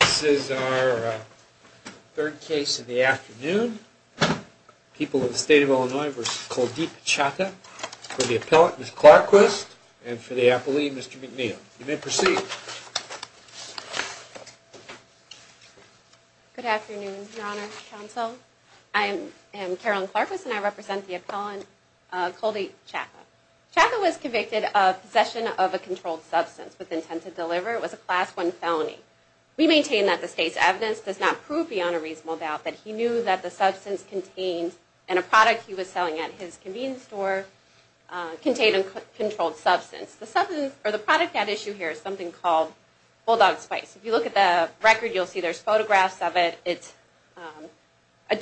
This is our third case of the afternoon. People of the State of Illinois v. Kuldeep Chatha. For the appellant, Ms. Clarkquist, and for the appellee, Mr. McNeil. You may proceed. Good afternoon, Your Honor, Counsel. I am Carolyn Clarkquist, and I represent the appellant, Kuldeep Chatha. Chatha was convicted of possession of a controlled substance with intent to deliver. It was a Class I felony. We maintain that the State's evidence does not prove beyond a reasonable doubt that he knew that the substance contained in a product he was selling at his convenience store contained a controlled substance. The substance, or the product at issue here is something called Bulldog Spice. If you look at the record, you'll see there's photographs of it. It's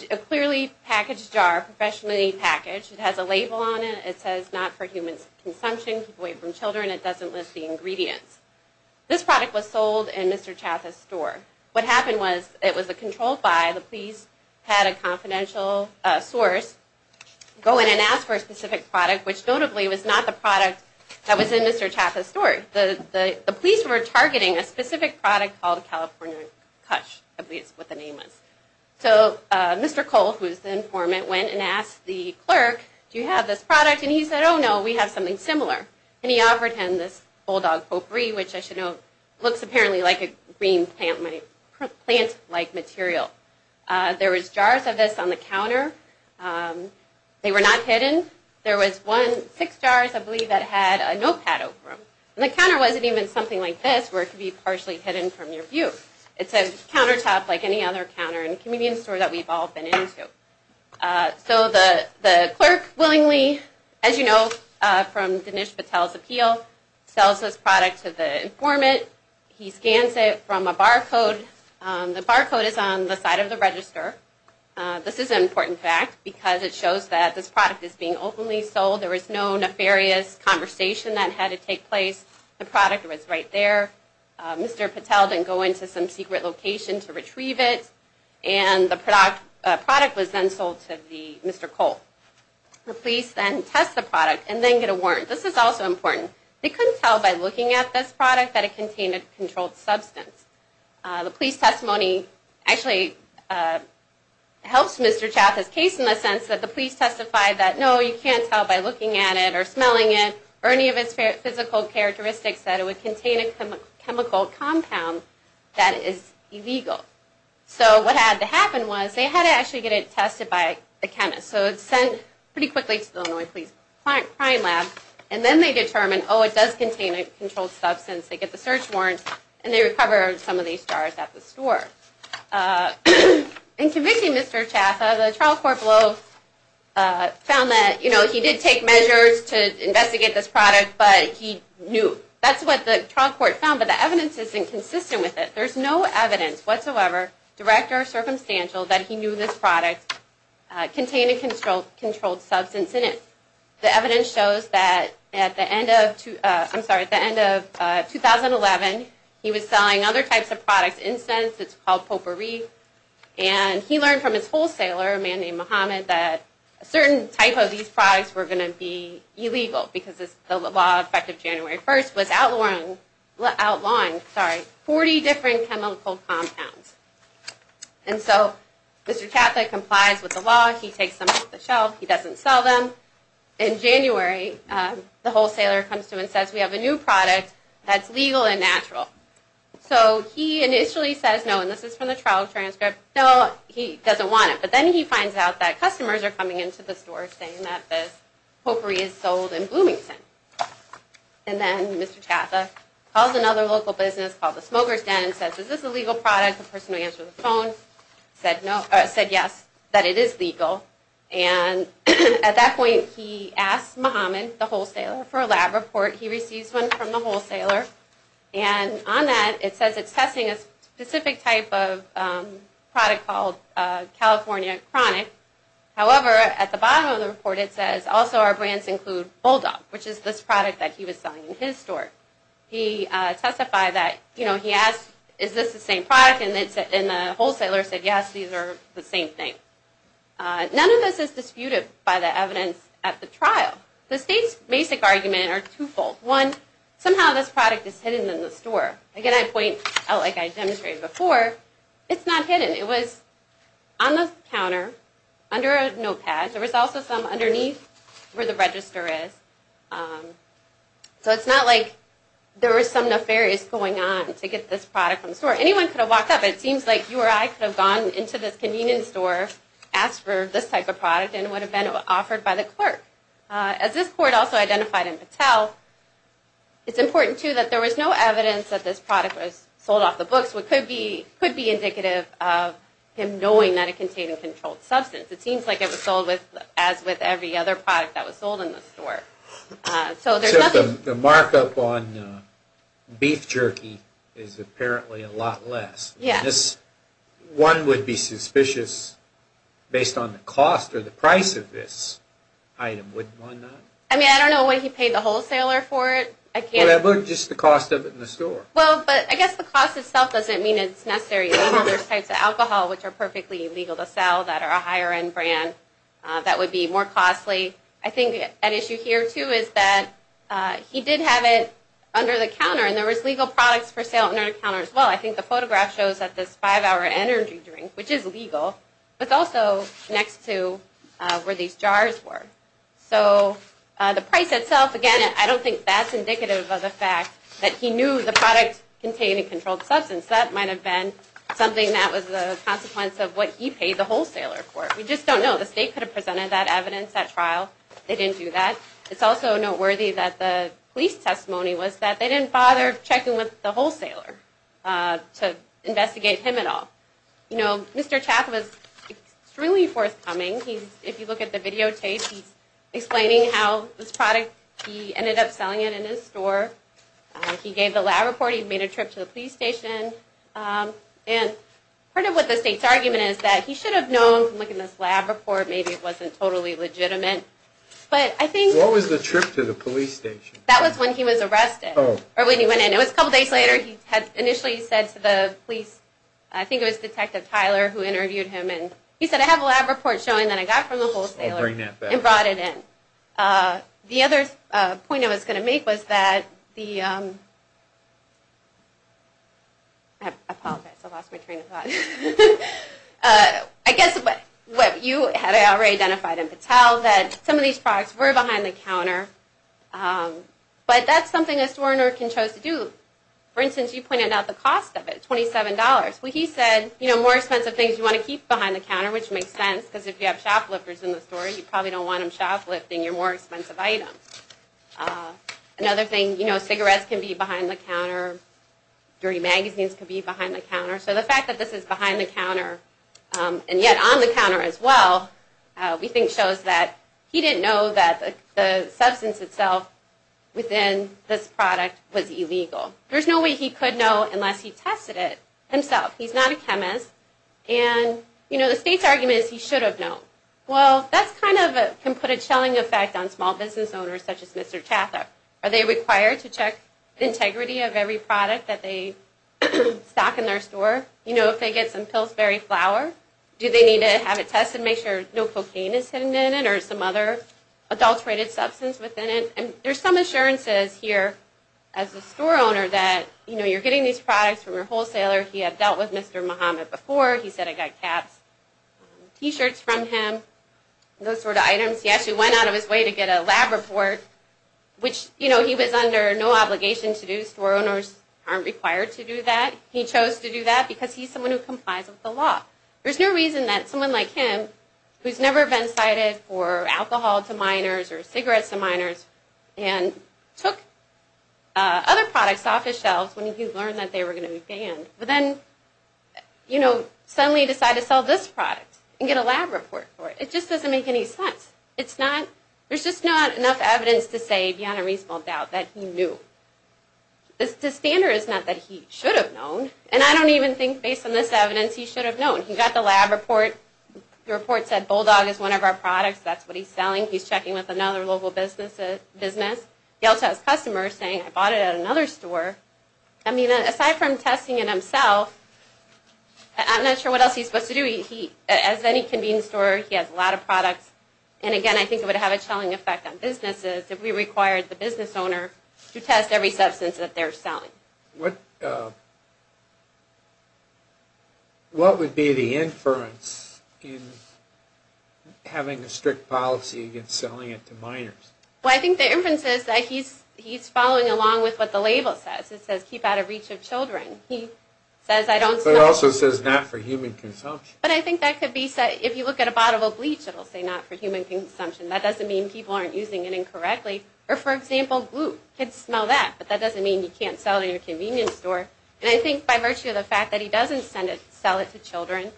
a clearly packaged jar, professionally packaged. It has a label on it. It says, not for human consumption. Keep away from children. It doesn't list the ingredients. This product was sold in Mr. Chatha's store. What happened was, it was a controlled buy. The police had a confidential source go in and ask for a specific product, which notably was not the product that was in Mr. Chatha's store. The police were targeting a specific product called California Kush, I believe is what the name was. So, Mr. Cole, who was the informant, went and asked the clerk, do you have this product? And he said, oh no, we have something similar. And he offered him this Bulldog Potpourri, which I should note, looks apparently like a green plant-like material. There was jars of this on the counter. They were not hidden. There was one, six jars, I believe, that had a notepad over them. And the counter wasn't even something like this, where it could be partially hidden from your view. It's a countertop like any other counter in a convenience store that we've all been into. So, the clerk willingly, as you know from Dinesh Patel's appeal, sells this product to the informant. He scans it from a barcode. The barcode is on the side of the register. This is an important fact, because it shows that this product is being openly sold. There was no nefarious conversation that had to take place. The product was right there. Mr. Patel didn't go into some secret location to retrieve it. And the product was then sold to Mr. Cole. The police then test the product and then get a warrant. This is also important. They couldn't tell by looking at this product that it contained a controlled substance. The police testimony actually helps Mr. Chatham's case in the sense that the police testified that, no, you can't tell by looking at it or smelling it or any of its physical characteristics that it would contain a chemical compound that is illegal. So, what had to happen was they had to actually get it tested by a chemist. So, it's sent pretty quickly to the Illinois Police Crime Lab. And then they determine, oh, it does contain a controlled substance. They get the search warrant and they recover some of these jars at the store. In convicting Mr. Chatham, the trial court found that he did take measures to investigate this product, but he knew. That's what the trial court found, but the evidence isn't consistent with it. There's no evidence whatsoever, direct or circumstantial, that he knew this product contained a controlled substance in it. The evidence shows that at the end of 2011, he was selling other types of products, incense, it's called potpourri, and he learned from his wholesaler, a man named Muhammad, that a certain type of these products were going to be illegal because the law effective January 1st was outlawing 40 different chemical compounds. And so, Mr. Chatham complies with the law, he takes them off the shelf, he doesn't sell them. In January, the wholesaler comes to him and says, we have a new product that's legal and natural. So, he initially says no, and this is from the trial transcript, no, he doesn't want it. But then he finds out that customers are coming into the store saying that this potpourri is sold in Bloomington. And then, Mr. Chatham calls another local business called the Smokers Den and says, is this a legal product? The person who answered the phone said yes, that it is legal. And at that point, he asks Muhammad, the wholesaler, for a lab report. He receives one from the wholesaler, and on that, it says it's testing a specific type of product called California Chronic. However, at the bottom of the report, it says, also our brands include Bulldog, which is this product that he was selling in his store. He testified that, you know, he asked, is this the same product? And the wholesaler said yes, these are the same thing. None of this is disputed by the evidence at the trial. The state's basic arguments are twofold. One, somehow this product is hidden in the store. Again, I point out, like I demonstrated before, it's not hidden. It was on the counter, under a notepad. There was also some underneath where the register is. So it's not like there were some nefarious going on to get this product from the store. Anyone could have walked up, and it seems like you or I could have gone into this convenience store, asked for this type of product, and it would have been offered by the clerk. As this court also identified in Patel, it's important, too, that there was no evidence that this product was sold off the books, which could be indicative of him knowing that it contained a controlled substance. It seems like it was sold as with every other product that was sold in the store. Except the markup on beef jerky is apparently a lot less. One would be suspicious, based on the cost or the price of this item, wouldn't one not? I mean, I don't know when he paid the wholesaler for it. Or just the cost of it in the store. Well, but I guess the cost itself doesn't mean it's necessary. There are other types of alcohol, which are perfectly legal to sell, that are a higher-end brand, that would be more costly. I think an issue here, too, is that he did have it under the counter, and there was legal products for sale under the counter, as well. I think the photograph shows that this five-hour energy drink, which is legal, was also next to where these jars were. So, the price itself, again, I don't think that's indicative of the fact that he knew the product contained a controlled substance. That might have been something that was a consequence of what he paid the wholesaler for. We just don't know. The state could have presented that evidence at trial. They didn't do that. It's also noteworthy that the police testimony was that they didn't bother checking with the wholesaler to investigate him at all. Mr. Chaffin was extremely forthcoming. If you look at the videotapes, he's explaining how this product, he ended up selling it in his store. He gave the lab report. He made a trip to the police station. Part of what the state's argument is that he should have known from looking at this lab report, maybe it wasn't totally legitimate. What was the trip to the police station? That was when he was arrested, or when he went in. It was a couple days later. Initially, he said to the police, I think it was Detective Tyler who interviewed him. He said, I have a lab report showing that I got it from the wholesaler and brought it in. The other point I was going to make was that the, I apologize, I lost my train of thought. I guess what you had already identified in Patel, that some of these products were behind the counter. But that's something a store owner can choose to do. For instance, you pointed out the cost of it, $27. He said, more expensive things you want to keep behind the counter, which makes sense, because if you have shoplifters in the store, you probably don't want them shoplifting your more expensive items. Another thing, cigarettes can be behind the counter. Dirty magazines can be behind the counter. So the fact that this is behind the counter, and yet on the counter as well, we think shows that he didn't know that the substance itself within this product was illegal. There's no way he could know unless he tested it himself. He's not a chemist, and you know, the state's argument is he should have known. Well, that's kind of, can put a chilling effect on small business owners such as Mr. Chatham. Are they required to check the integrity of every product that they stock in their store? You know, if they get some Pillsbury flour, do they need to have it tested, make sure no cocaine is hidden in it, or some other adulterated substance within it? And there's some assurances here as a store owner that, you know, you're getting these products from your wholesaler. He had dealt with Mr. Muhammad before. He said, I got caps, T-shirts from him, those sort of items. He actually went out of his way to get a lab report, which, you know, he was under no obligation to do. Store owners aren't required to do that. He chose to do that because he's someone who complies with the law. There's no reason that someone like him, who's never been cited for alcohol to minors or cigarettes to minors, and took other products off his shelves when he learned that they were going to be banned, but then, you know, suddenly decided to sell this product and get a lab report for it. It just doesn't make any sense. There's just not enough evidence to say, beyond a reasonable doubt, that he knew. The standard is not that he should have known, and I don't even think, based on this evidence, he should have known. He got the lab report. The report said Bulldog is one of our products, that's what he's selling. He's checking with another local business. He also has customers saying, I bought it at another store. I mean, aside from testing it himself, I'm not sure what else he's supposed to do. As any convenience store, he has a lot of products, and again, I think it would have a selling effect on businesses if we required the business owner to test every substance that they're selling. What would be the inference in having a strict policy against selling it to minors? Well, I think the inference is that he's following along with what the label says. It also says not for human consumption. But I think that could be said, if you look at a bottle of bleach, it'll say not for human consumption. That doesn't mean people aren't using it incorrectly. Or, for example, kids smell that, but that doesn't mean you can't sell it in your convenience store. And I think, by virtue of the fact that he doesn't sell it to children,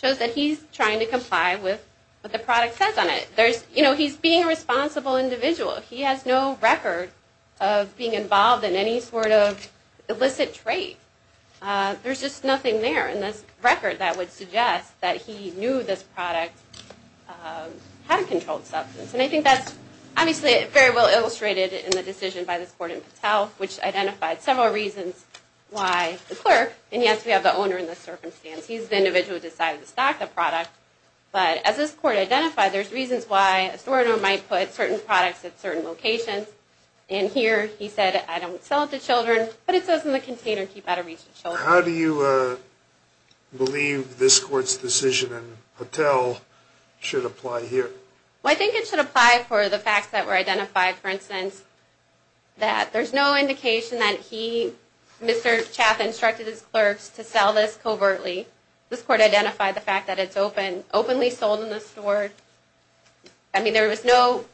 shows that he's trying to comply with what the product says on it. You know, he's being a responsible individual. He has no record of being involved in any sort of illicit trade. There's just nothing there in this record that would suggest that he knew this product had a controlled substance. And I think that's obviously very well illustrated in the decision by this court in Patel, which identified several reasons why the clerk, and yes, we have the owner in this circumstance, he's the individual who decided to stock the product, but as this court identified, there's reasons why a store owner might put certain products at certain locations. And here, he said, I don't sell it to children, but it says in the container, keep out of reach of children. How do you believe this court's decision in Patel should apply here? Well, I think it should apply for the facts that were identified. For instance, that there's no indication that he, Mr. Chaff, instructed his clerks to sell this covertly. This court identified the fact that it's openly sold in the store. I mean, there was no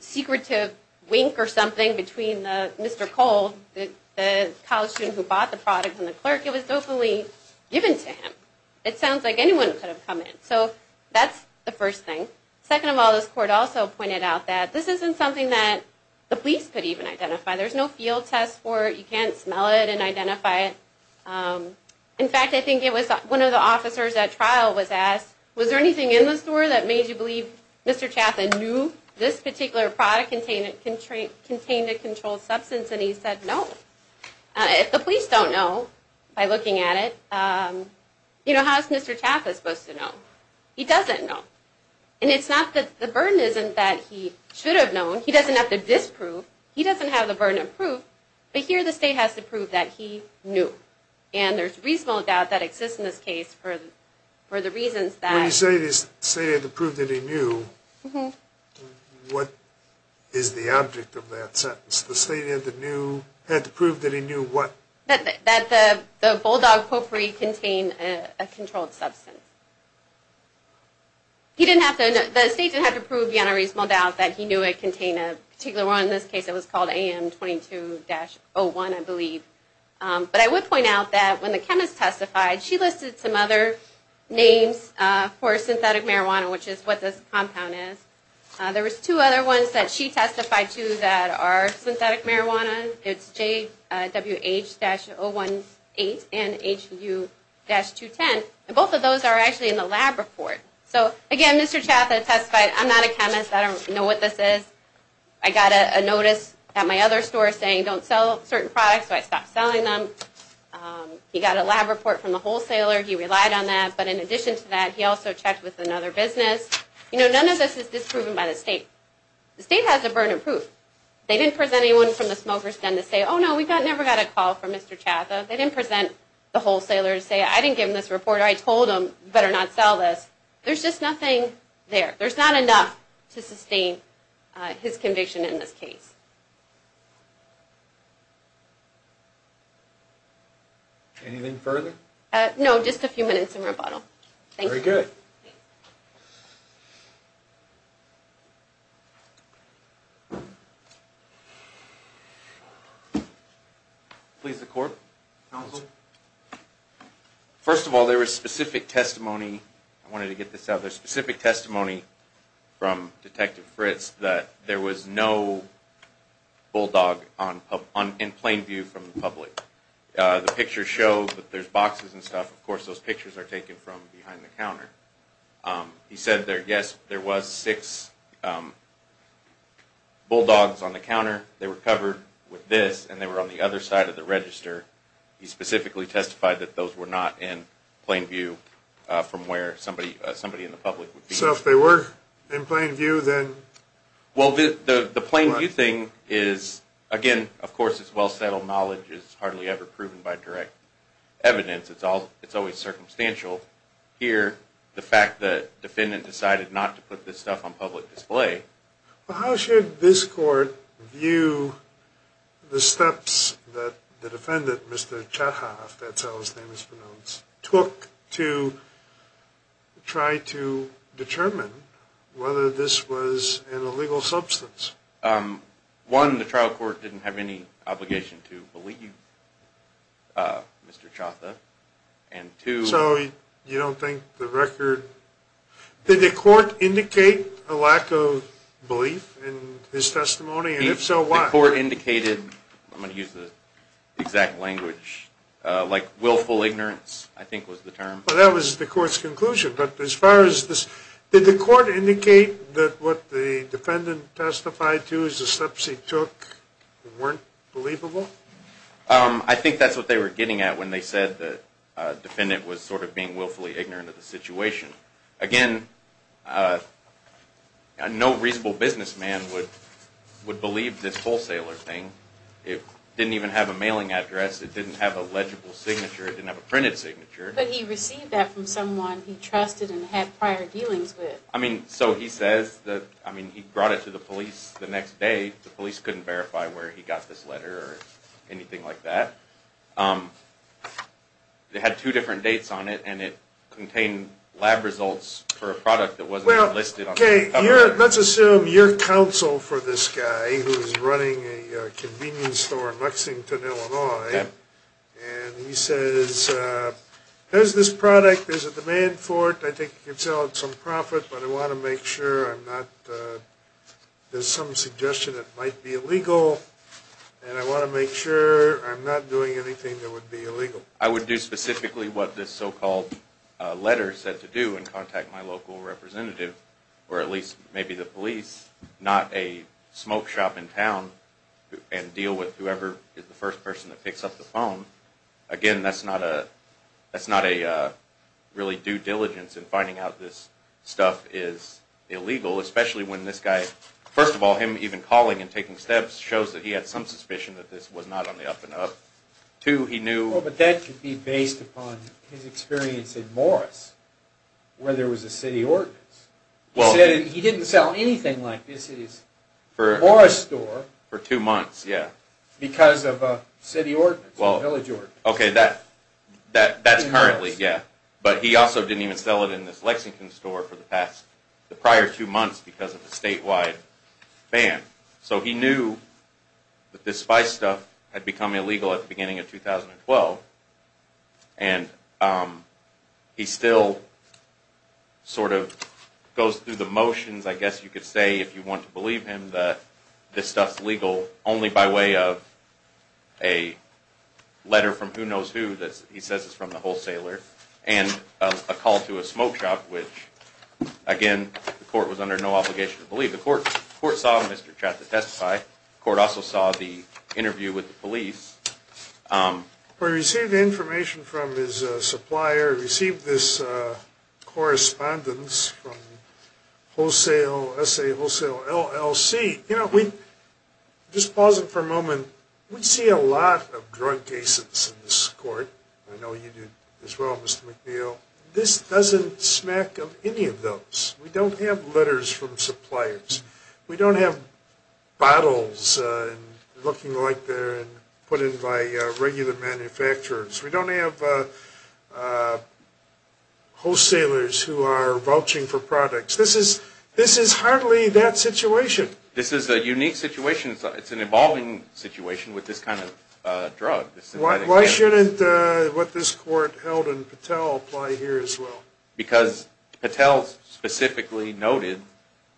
secretive wink or something between Mr. Cole, the college student who bought the product, and the clerk. It was openly given to him. It sounds like anyone could have come in. So that's the first thing. Second of all, this court also pointed out that this isn't something that the police could even identify. There's no field test for it. You can't smell it and identify it. In fact, I think it was one of the officers at trial was asked, was there anything in the store that made you believe Mr. Chaffin knew this particular product contained a controlled substance? And he said, no. If the police don't know by looking at it, you know, how's Mr. Chaffin supposed to know? He doesn't know. And it's not that the burden isn't that he should have known. He doesn't have to disprove. He doesn't have the burden of proof. But here the state has to prove that he knew. And there's reasonable doubt that exists in this case for the reasons that… When you say the state had to prove that he knew, what is the object of that sentence? The state had to prove that he knew what? That the Bulldog Potpourri contained a controlled substance. He didn't have to… The state didn't have to prove beyond a reasonable doubt that he knew it contained a particular one. In this case, it was called AM22-01, I believe. But I would point out that when the chemist testified, she listed some other names for synthetic marijuana, which is what this compound is. There was two other ones that she testified to that are synthetic marijuana. It's JWH-018 and HU-210. And both of those are actually in the lab report. So, again, Mr. Chatham testified, I'm not a chemist. I don't know what this is. I got a notice at my other store saying don't sell certain products, so I stopped selling them. He got a lab report from the wholesaler. He relied on that. But in addition to that, he also checked with another business. You know, none of this is disproven by the state. The state has the burden of proof. They didn't present anyone from the smoker's den to say, oh, no, we never got a call from Mr. Chatham. They didn't present the wholesaler to say, I didn't give him this report. I told him you better not sell this. There's just nothing there. There's not enough to sustain his conviction in this case. Anything further? No, just a few minutes in rebuttal. Thank you. Very good. Thank you. Please, the court, counsel. First of all, there was specific testimony. I wanted to get this out. There's specific testimony from Detective Fritz that there was no bulldog in plain view from the public. The pictures show that there's boxes and stuff. Of course, those pictures are taken from behind the counter. He said, yes, there was six bulldogs on the counter. They were covered with this, and they were on the other side of the register. He specifically testified that those were not in plain view from where somebody in the public would be. So if they were in plain view, then what? Well, the plain view thing is, again, of course, it's well-settled knowledge. It's hardly ever proven by direct evidence. It's always circumstantial. Here, the fact that the defendant decided not to put this stuff on public display. Well, how should this court view the steps that the defendant, Mr. Chatha, if that's how his name is pronounced, took to try to determine whether this was an illegal substance? One, the trial court didn't have any obligation to believe Mr. Chatha. And two... So you don't think the record... Did the court indicate a lack of belief in his testimony? And if so, why? The court indicated, I'm going to use the exact language, like willful ignorance, I think was the term. Well, that was the court's conclusion. Did the court indicate that what the defendant testified to as the steps he took weren't believable? I think that's what they were getting at when they said the defendant was sort of being willfully ignorant of the situation. Again, no reasonable businessman would believe this wholesaler thing. It didn't even have a mailing address. It didn't have a legible signature. It didn't have a printed signature. But he received that from someone he trusted and had prior dealings with. I mean, so he says that he brought it to the police the next day. The police couldn't verify where he got this letter or anything like that. It had two different dates on it, and it contained lab results for a product that wasn't listed on the cover. Let's assume you're counsel for this guy who's running a convenience store in Lexington, Illinois. And he says, here's this product. There's a demand for it. I think you can sell it at some profit, but I want to make sure I'm not – there's some suggestion it might be illegal, and I want to make sure I'm not doing anything that would be illegal. I would do specifically what this so-called letter said to do and contact my local representative, or at least maybe the police, not a smoke shop in town and deal with whoever is the first person that picks up the phone. Again, that's not a – that's not a really due diligence in finding out this stuff is illegal, especially when this guy – first of all, him even calling and taking steps shows that he had some suspicion that this was not on the up-and-up. Two, he knew – He didn't sell anything like this at his Morris store for two months because of a city ordinance, a village ordinance. Okay, that's currently, yeah. But he also didn't even sell it in this Lexington store for the prior two months because of a statewide ban. So he knew that this spice stuff had become illegal at the beginning of 2012, and he still sort of goes through the motions, I guess you could say, if you want to believe him, that this stuff's legal only by way of a letter from who knows who that he says is from the wholesaler and a call to a smoke shop, which, again, the court was under no obligation to believe. The court saw Mr. Chatham testify. We received information from his supplier. We received this correspondence from wholesale – S.A. Wholesale LLC. You know, we – just pause it for a moment. We see a lot of drug cases in this court. I know you do as well, Mr. McNeil. This doesn't smack of any of those. We don't have letters from suppliers. We don't have bottles looking like they're put in by regular manufacturers. We don't have wholesalers who are vouching for products. This is hardly that situation. This is a unique situation. It's an evolving situation with this kind of drug. Why shouldn't what this court held in Patel apply here as well? Because Patel specifically noted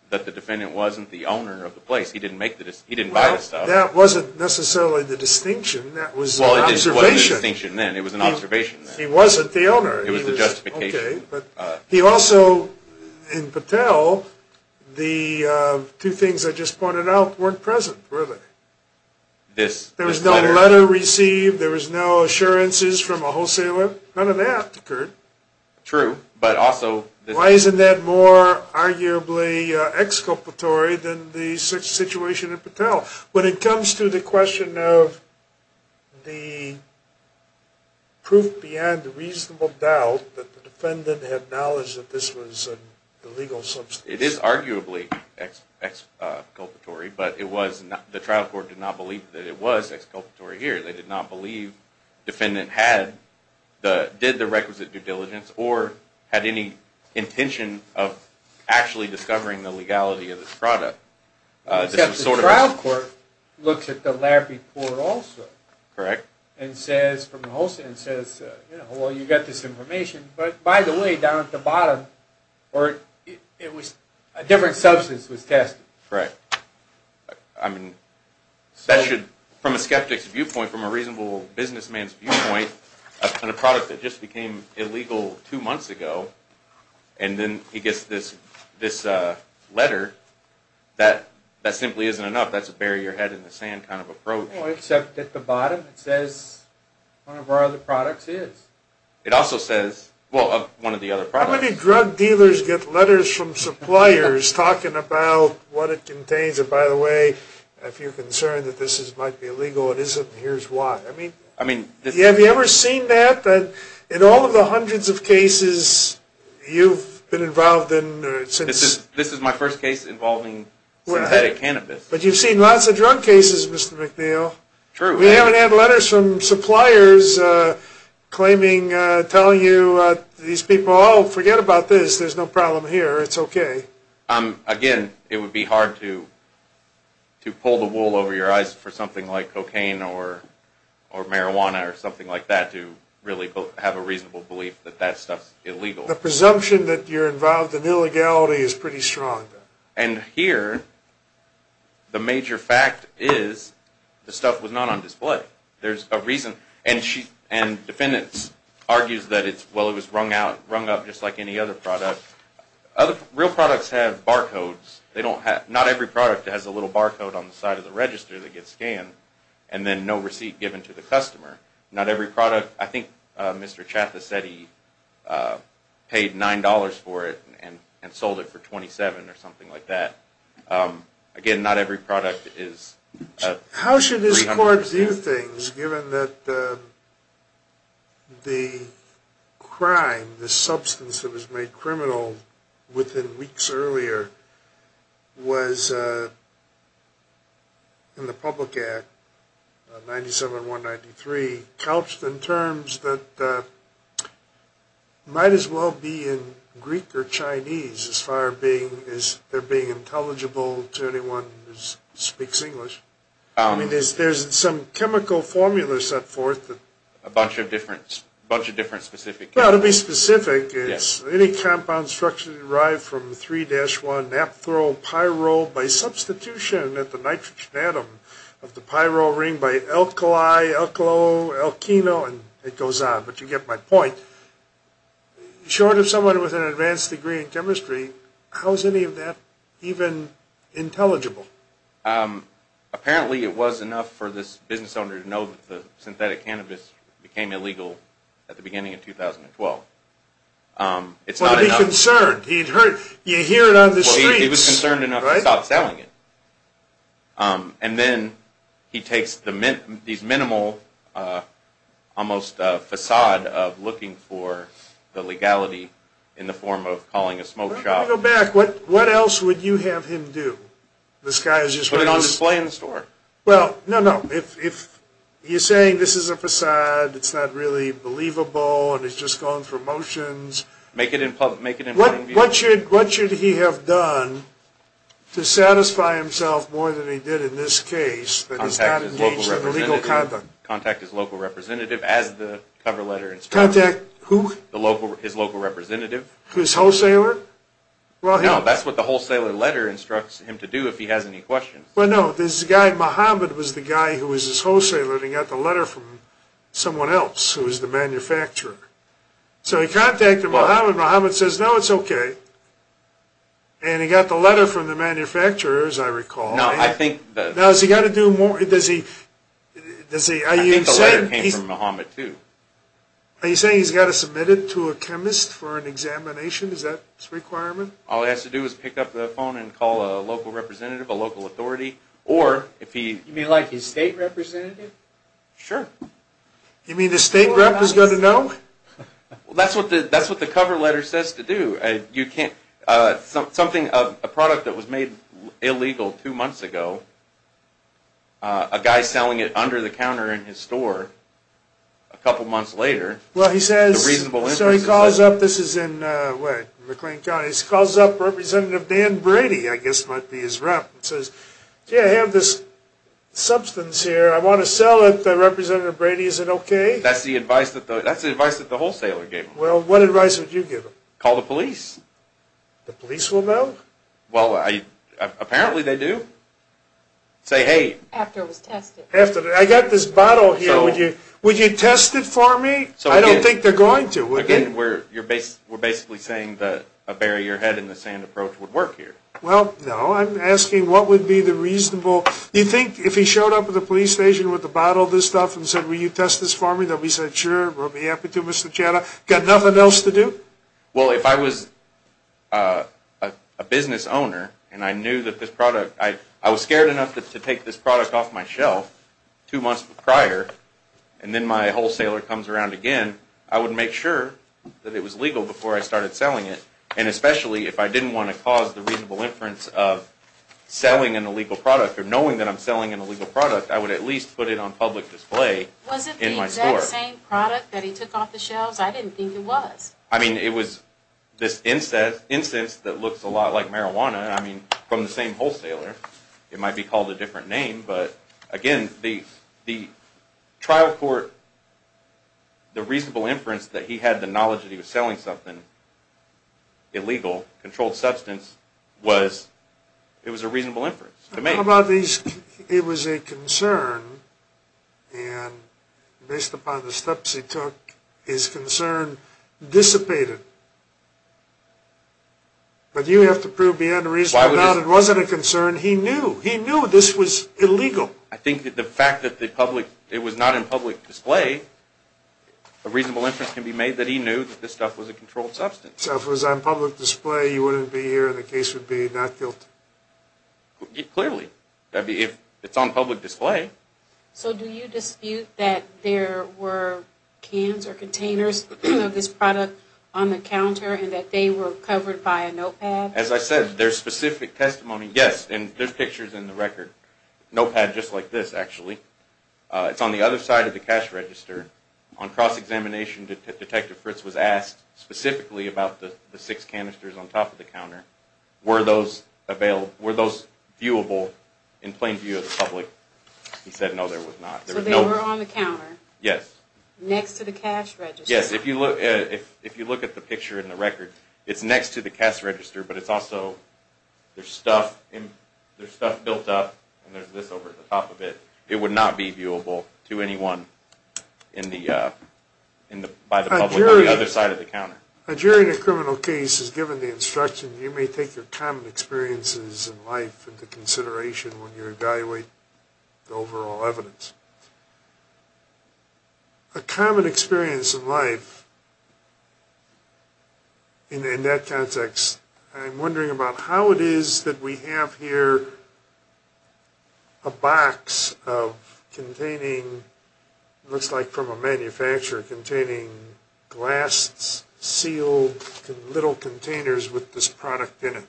that the defendant wasn't the owner of the place. He didn't buy the stuff. Well, that wasn't necessarily the distinction. That was an observation. Well, it wasn't a distinction then. It was an observation then. He wasn't the owner. It was the justification. Okay. But he also, in Patel, the two things I just pointed out weren't present, really. There was no letter received. There was no assurances from a wholesaler. None of that occurred. True. Why isn't that more arguably exculpatory than the situation in Patel? When it comes to the question of the proof beyond a reasonable doubt that the defendant had knowledge that this was an illegal substance. It is arguably exculpatory, but the trial court did not believe that it was exculpatory here. They did not believe the defendant did the requisite due diligence or had any intention of actually discovering the legality of this product. Except the trial court looked at the letter before also. Correct. And says, from the wholesaler, and says, you know, well, you've got this information. But, by the way, down at the bottom, a different substance was tested. Correct. I mean, from a skeptic's viewpoint, from a reasonable businessman's viewpoint, a product that just became illegal two months ago, and then he gets this letter, that simply isn't enough. That's a bury your head in the sand kind of approach. Well, except at the bottom it says one of our other products is. It also says, well, one of the other products. How many drug dealers get letters from suppliers talking about what it contains? And, by the way, if you're concerned that this might be illegal, it isn't, and here's why. Have you ever seen that? In all of the hundreds of cases you've been involved in. This is my first case involving synthetic cannabis. But you've seen lots of drug cases, Mr. McNeil. True. We haven't had letters from suppliers claiming, telling you these people, oh, forget about this. There's no problem here. It's okay. Again, it would be hard to pull the wool over your eyes for something like cocaine or marijuana or something like that to really have a reasonable belief that that stuff's illegal. The presumption that you're involved in illegality is pretty strong. And here, the major fact is the stuff was not on display. There's a reason. And defendants argue that, well, it was rung up just like any other product. Real products have barcodes. Not every product has a little barcode on the side of the register that gets scanned and then no receipt given to the customer. I think Mr. Chathas said he paid $9 for it and sold it for $27 or something like that. Again, not every product is 300% How should this court view things given that the crime, the substance that was made criminal within weeks earlier, was in the Public Act 97193 couched in terms that might as well be in Greek or Chinese as far as being intelligible to anyone who speaks English. There's some chemical formula set forth. A bunch of different specific chemicals. To be specific, it's any compound structurally derived from 3-1 naphthol pyrole by substitution at the nitrogen atom of the pyrrole ring by alkali, alkyl, alkenol, and it goes on. But you get my point. Short of someone with an advanced degree in chemistry, how is any of that even intelligible? Apparently, it was enough for this business owner to know that the synthetic cannabis became illegal at the beginning of 2012. He'd be concerned. You'd hear it on the streets. He was concerned enough to stop selling it. And then he takes these minimal, almost facade of looking for the legality in the form of calling a smoke shop. What else would you have him do? Put it on display in the store. Well, no, no. If he's saying this is a facade, it's not really believable, and it's just going through motions. Make it in public. What should he have done to satisfy himself more than he did in this case? Contact his local representative as the cover letter instructs. Contact who? His local representative. His wholesaler? No, that's what the wholesaler letter instructs him to do if he has any questions. Well, no. This guy, Mohammed, was the guy who was his wholesaler, and he got the letter from someone else who was the manufacturer. So he contacted Mohammed. Mohammed says, no, it's okay. And he got the letter from the manufacturer, as I recall. No, I think that... Now, has he got to do more? Does he... I think the letter came from Mohammed, too. Are you saying he's got to submit it to a chemist for an examination? Is that his requirement? All he has to do is pick up the phone and call a local representative, a local authority, or if he... You mean like his state representative? Sure. You mean the state representative is going to know? Well, that's what the cover letter says to do. Something, a product that was made illegal two months ago, a guy selling it under the counter in his store, a couple months later... So he calls up... This is in McLean County. He calls up Representative Dan Brady, I guess might be his rep, and says, gee, I have this substance here. I want to sell it. Representative Brady, is it okay? That's the advice that the wholesaler gave him. Well, what advice would you give him? Call the police. The police will know? Well, apparently they do. Say, hey... After it was tested. I got this bottle here. Would you test it for me? I don't think they're going to. Again, we're basically saying that a bury-your-head-in-the-sand approach would work here. Well, no. I'm asking what would be the reasonable... Do you think if he showed up at the police station with a bottle of this stuff and said, will you test this for me, that we said, sure, we'll be happy to, Mr. Chada? Got nothing else to do? Well, if I was a business owner and I knew that this product... I was scared enough to take this product off my shelf two months prior, and then my wholesaler comes around again, I would make sure that it was legal before I started selling it. And especially if I didn't want to cause the reasonable inference of selling an illegal product or knowing that I'm selling an illegal product, I would at least put it on public display in my store. Was it the exact same product that he took off the shelves? I didn't think it was. I mean, it was this incense that looks a lot like marijuana. I mean, from the same wholesaler. It might be called a different name. But, again, the trial court... the reasonable inference that he had the knowledge that he was selling something illegal, controlled substance, was... it was a reasonable inference to make. How about these... it was a concern. And based upon the steps he took, his concern dissipated. But you have to prove beyond a reasonable doubt it wasn't a concern. He knew. He knew this was illegal. I think that the fact that the public... it was not in public display, a reasonable inference can be made that he knew that this stuff was a controlled substance. So if it was on public display, you wouldn't be here and the case would be not guilty? Clearly. If it's on public display... So do you dispute that there were cans or containers of this product on the counter and that they were covered by a notepad? As I said, there's specific testimony... yes, and there's pictures in the record. Notepad just like this, actually. It's on the other side of the cash register. On cross-examination, Detective Fritz was asked specifically about the six canisters on top of the counter. Were those available... were those viewable in plain view of the public? He said no, there was not. So they were on the counter? Yes. Yes. If you look at the picture in the record, it's next to the cash register, but it's also... there's stuff built up, and there's this over the top of it. It would not be viewable to anyone by the public on the other side of the counter. A jury in a criminal case is given the instruction, you may take your common experiences in life into consideration when you evaluate the overall evidence. A common experience in life... in that context, I'm wondering about how it is that we have here a box of containing... it looks like from a manufacturer... containing glass-sealed little containers with this product in it.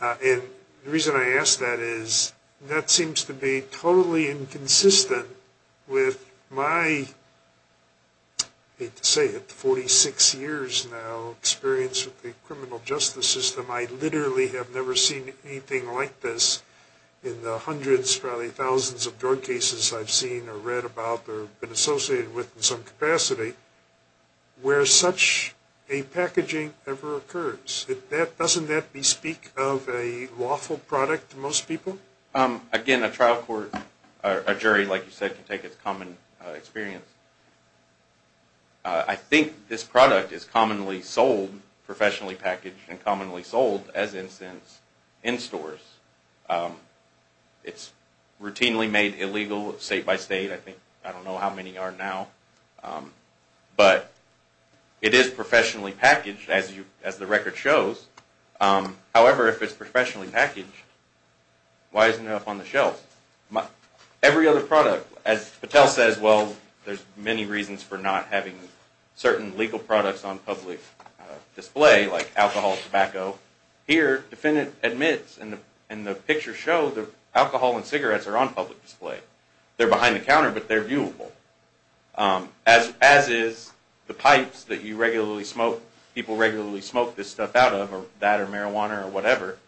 And the reason I ask that is, that seems to be totally inconsistent with my... I hate to say it, 46 years now experience with the criminal justice system. I literally have never seen anything like this in the hundreds, probably thousands of drug cases I've seen or read about or been associated with in some capacity, where such a packaging ever occurs. Doesn't that bespeak of a lawful product to most people? Again, a trial court... a jury, like you said, can take its common experience. I think this product is commonly sold, professionally packaged and commonly sold, as instance, in stores. It's routinely made illegal state by state. I don't know how many are now. But it is professionally packaged, as the record shows. However, if it's professionally packaged, why isn't it up on the shelf? Every other product, as Patel says, well, there's many reasons for not having certain legal products on public display, like alcohol, tobacco. Here, the defendant admits, and the pictures show, that alcohol and cigarettes are on public display. They're behind the counter, but they're viewable. As is the pipes that you regularly smoke, people regularly smoke this stuff out of, or that, or marijuana, or whatever.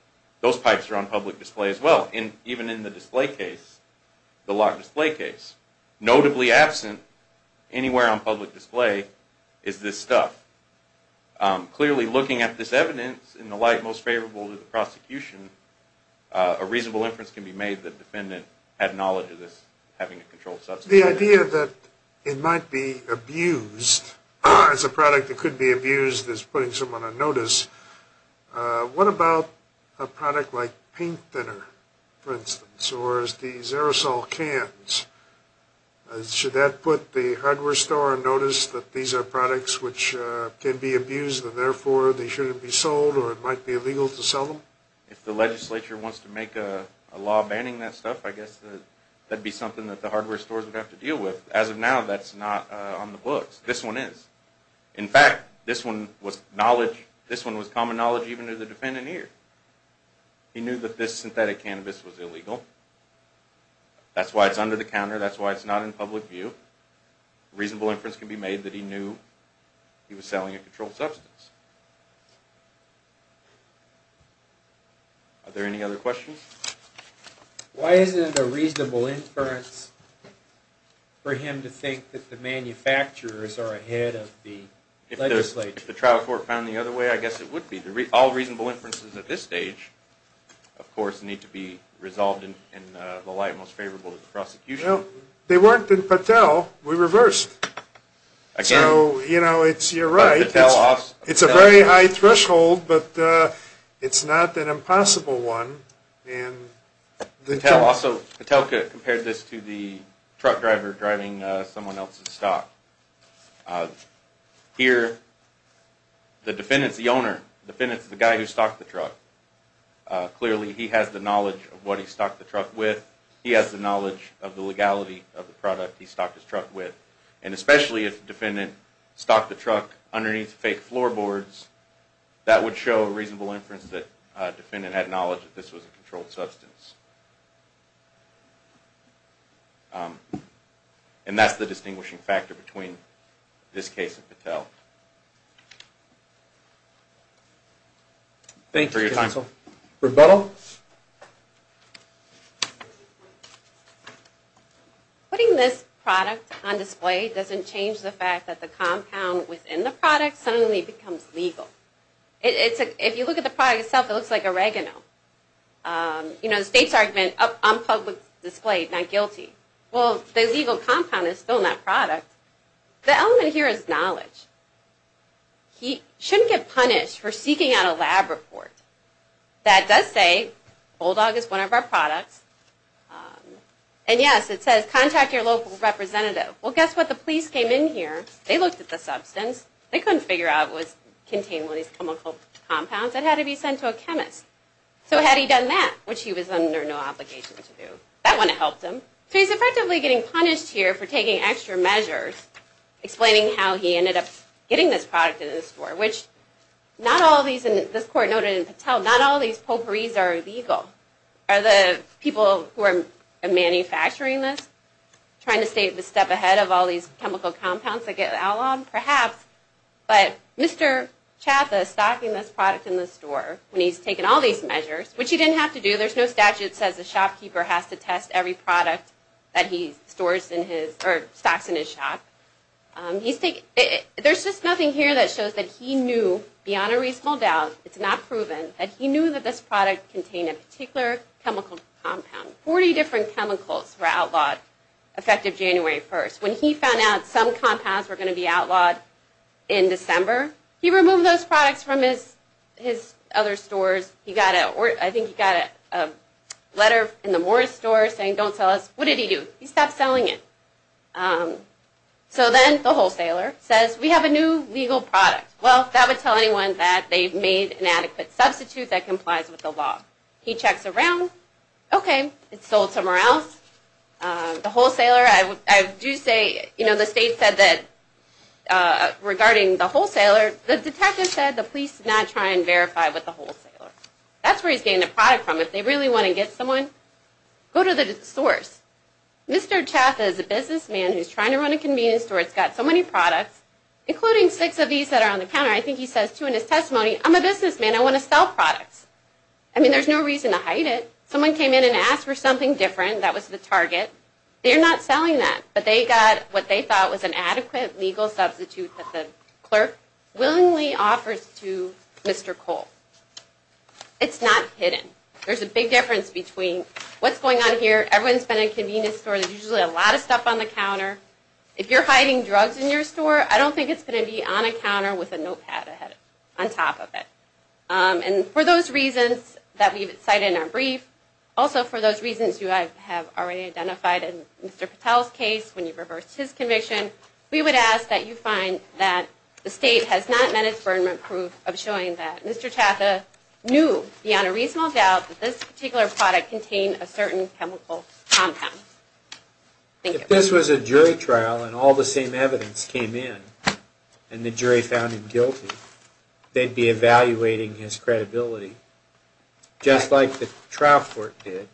Those pipes are on public display as well, even in the display case, the locked display case. Notably absent anywhere on public display is this stuff. Clearly, looking at this evidence, in the light most favorable to the prosecution, a reasonable inference can be made that the defendant had knowledge of this, having a controlled substance. The idea that it might be abused, as a product that could be abused, is putting someone on notice. What about a product like paint thinner, for instance, or the Xerosol cans? Should that put the hardware store on notice, that these are products which can be abused, and therefore they shouldn't be sold, or it might be illegal to sell them? If the legislature wants to make a law banning that stuff, I guess that'd be something that the hardware stores would have to deal with. As of now, that's not on the books. This one is. In fact, this one was common knowledge even to the defendant here. He knew that this synthetic cannabis was illegal. That's why it's under the counter. That's why it's not in public view. A reasonable inference can be made that he knew he was selling a controlled substance. Are there any other questions? Why isn't it a reasonable inference for him to think that the manufacturers are ahead of the legislature? If the trial court found it the other way, I guess it would be. All reasonable inferences at this stage, of course, need to be resolved in the light most favorable to the prosecution. They weren't in Patel. We reversed. So, you know, you're right. It's a very high threshold, but it's not an impossible one. Also, Patel compared this to the truck driver driving someone else's stock. Here, the defendant's the owner. The defendant's the guy who stocked the truck. Clearly, he has the knowledge of what he stocked the truck with. He has the knowledge of the legality of the product he stocked his truck with. And especially if the defendant stocked the truck underneath fake floorboards, that would show a reasonable inference that the defendant had knowledge that this was a controlled substance. And that's the distinguishing factor between this case and Patel. Thank you, counsel. Rebuttal? Putting this product on display doesn't change the fact that the compound within the product suddenly becomes legal. If you look at the product itself, it looks like oregano. You know, the state's argument, on public display, not guilty. Well, the legal compound is still in that product. The element here is knowledge. He shouldn't get punished for seeking out a lab report. That does say Bulldog is one of our products. And yes, it says, contact your local representative. Well, guess what? The police came in here. They looked at the substance. They couldn't figure out it contained one of these chemical compounds that had to be sent to a chemist. So had he done that, which he was under no obligation to do, that wouldn't have helped him. So he's effectively getting punished here for taking extra measures, explaining how he ended up getting this product in his store, which not all these, and this court noted in Patel, not all these potpourris are illegal. Are the people who are manufacturing this trying to stay a step ahead of all these chemical compounds that get outlawed? Perhaps. But Mr. Chaffa stocking this product in the store when he's taken all these measures, which he didn't have to do. There's no statute that says the shopkeeper has to test every product that he stores in his, or stocks in his shop. There's just nothing here that shows that he knew, beyond a reasonable doubt, it's not proven, that he knew that this product contained a particular chemical compound. Forty different chemicals were outlawed effective January 1st. When he found out some compounds were going to be outlawed in December, he removed those products from his other stores. I think he got a letter in the Morris store saying, don't sell us. What did he do? He stopped selling it. So then the wholesaler says, we have a new legal product. Well, that would tell anyone that they've made an adequate substitute that complies with the law. He checks around. Okay, it's sold somewhere else. The wholesaler, I do say, you know, the state said that, regarding the wholesaler, the detective said the police did not try and verify with the wholesaler. That's where he's getting the product from. So if they really want to get someone, go to the source. Mr. Chaffet is a businessman who's trying to run a convenience store. It's got so many products, including six of these that are on the counter. I think he says, too, in his testimony, I'm a businessman. I want to sell products. I mean, there's no reason to hide it. Someone came in and asked for something different. That was the target. They're not selling that, but they got what they thought was an adequate legal substitute that the clerk willingly offers to Mr. Cole. It's not hidden. There's a big difference between what's going on here. Everyone's been in a convenience store. There's usually a lot of stuff on the counter. If you're hiding drugs in your store, I don't think it's going to be on a counter with a notepad on top of it. And for those reasons that we've cited in our brief, also for those reasons you have already identified in Mr. Patel's case when you reversed his conviction, we would ask that you find that the state has not met its burden of proof of showing that Mr. Tatha knew beyond a reasonable doubt that this particular product contained a certain chemical compound. Thank you. If this was a jury trial and all the same evidence came in and the jury found him guilty, they'd be evaluating his credibility just like the trial court did.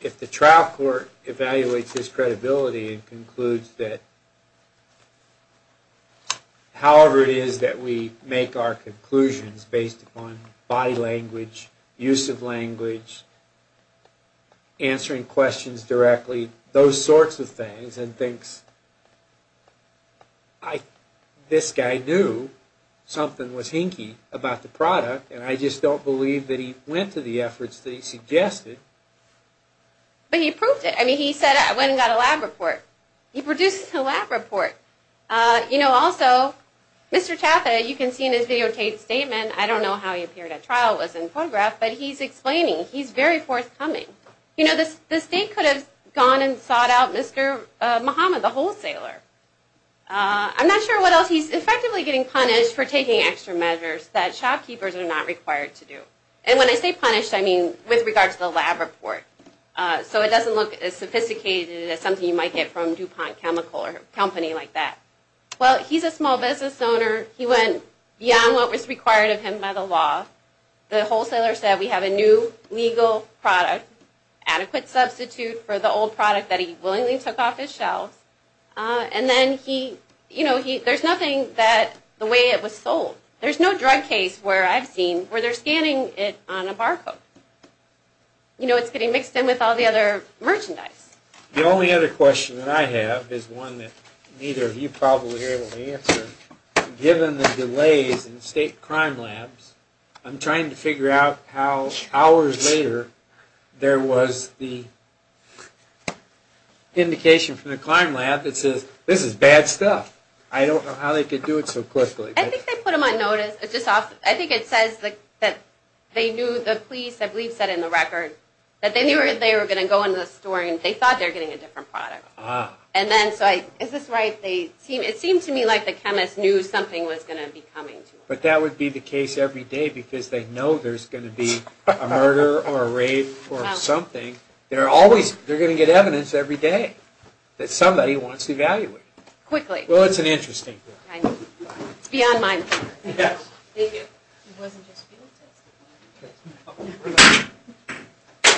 If the trial court evaluates his credibility and concludes that however it is that we make our conclusions based upon body language, use of language, answering questions directly, those sorts of things, and thinks this guy knew something was hinky about the product and I just don't believe that he went to the efforts that he suggested. But he proved it. I mean he said I went and got a lab report. He produced a lab report. Also, Mr. Tatha, you can see in his videotape statement, I don't know how he appeared at trial, it was in photograph, but he's explaining. He's very forthcoming. The state could have gone and sought out Mr. Muhammad, the wholesaler. I'm not sure what else. He's effectively getting punished for taking extra measures that shopkeepers are not required to do. And when I say punished, I mean with regard to the lab report. So it doesn't look as sophisticated as something you might get from DuPont Chemical or a company like that. Well, he's a small business owner. He went beyond what was required of him by the law. The wholesaler said we have a new legal product, adequate substitute for the old product that he willingly took off his shelves. And then he, you know, there's nothing that the way it was sold. There's no drug case where I've seen where they're scanning it on a barcode. You know, it's getting mixed in with all the other merchandise. The only other question that I have is one that neither of you probably are able to answer. Given the delays in state crime labs, I'm trying to figure out how hours later there was the indication from the crime lab that says this is bad stuff. I don't know how they could do it so quickly. I think they put them on notice. I think it says that they knew, the police I believe said in the record, that they knew they were going to go into the store and they thought they were getting a different product. Is this right? It seemed to me like the chemist knew something was going to be coming to him. But that would be the case every day because they know there's going to be a murder or a rape or something. They're going to get evidence every day that somebody wants to evaluate. Quickly. Well, it's an interesting thing. It's beyond mine. Yes. Thank you.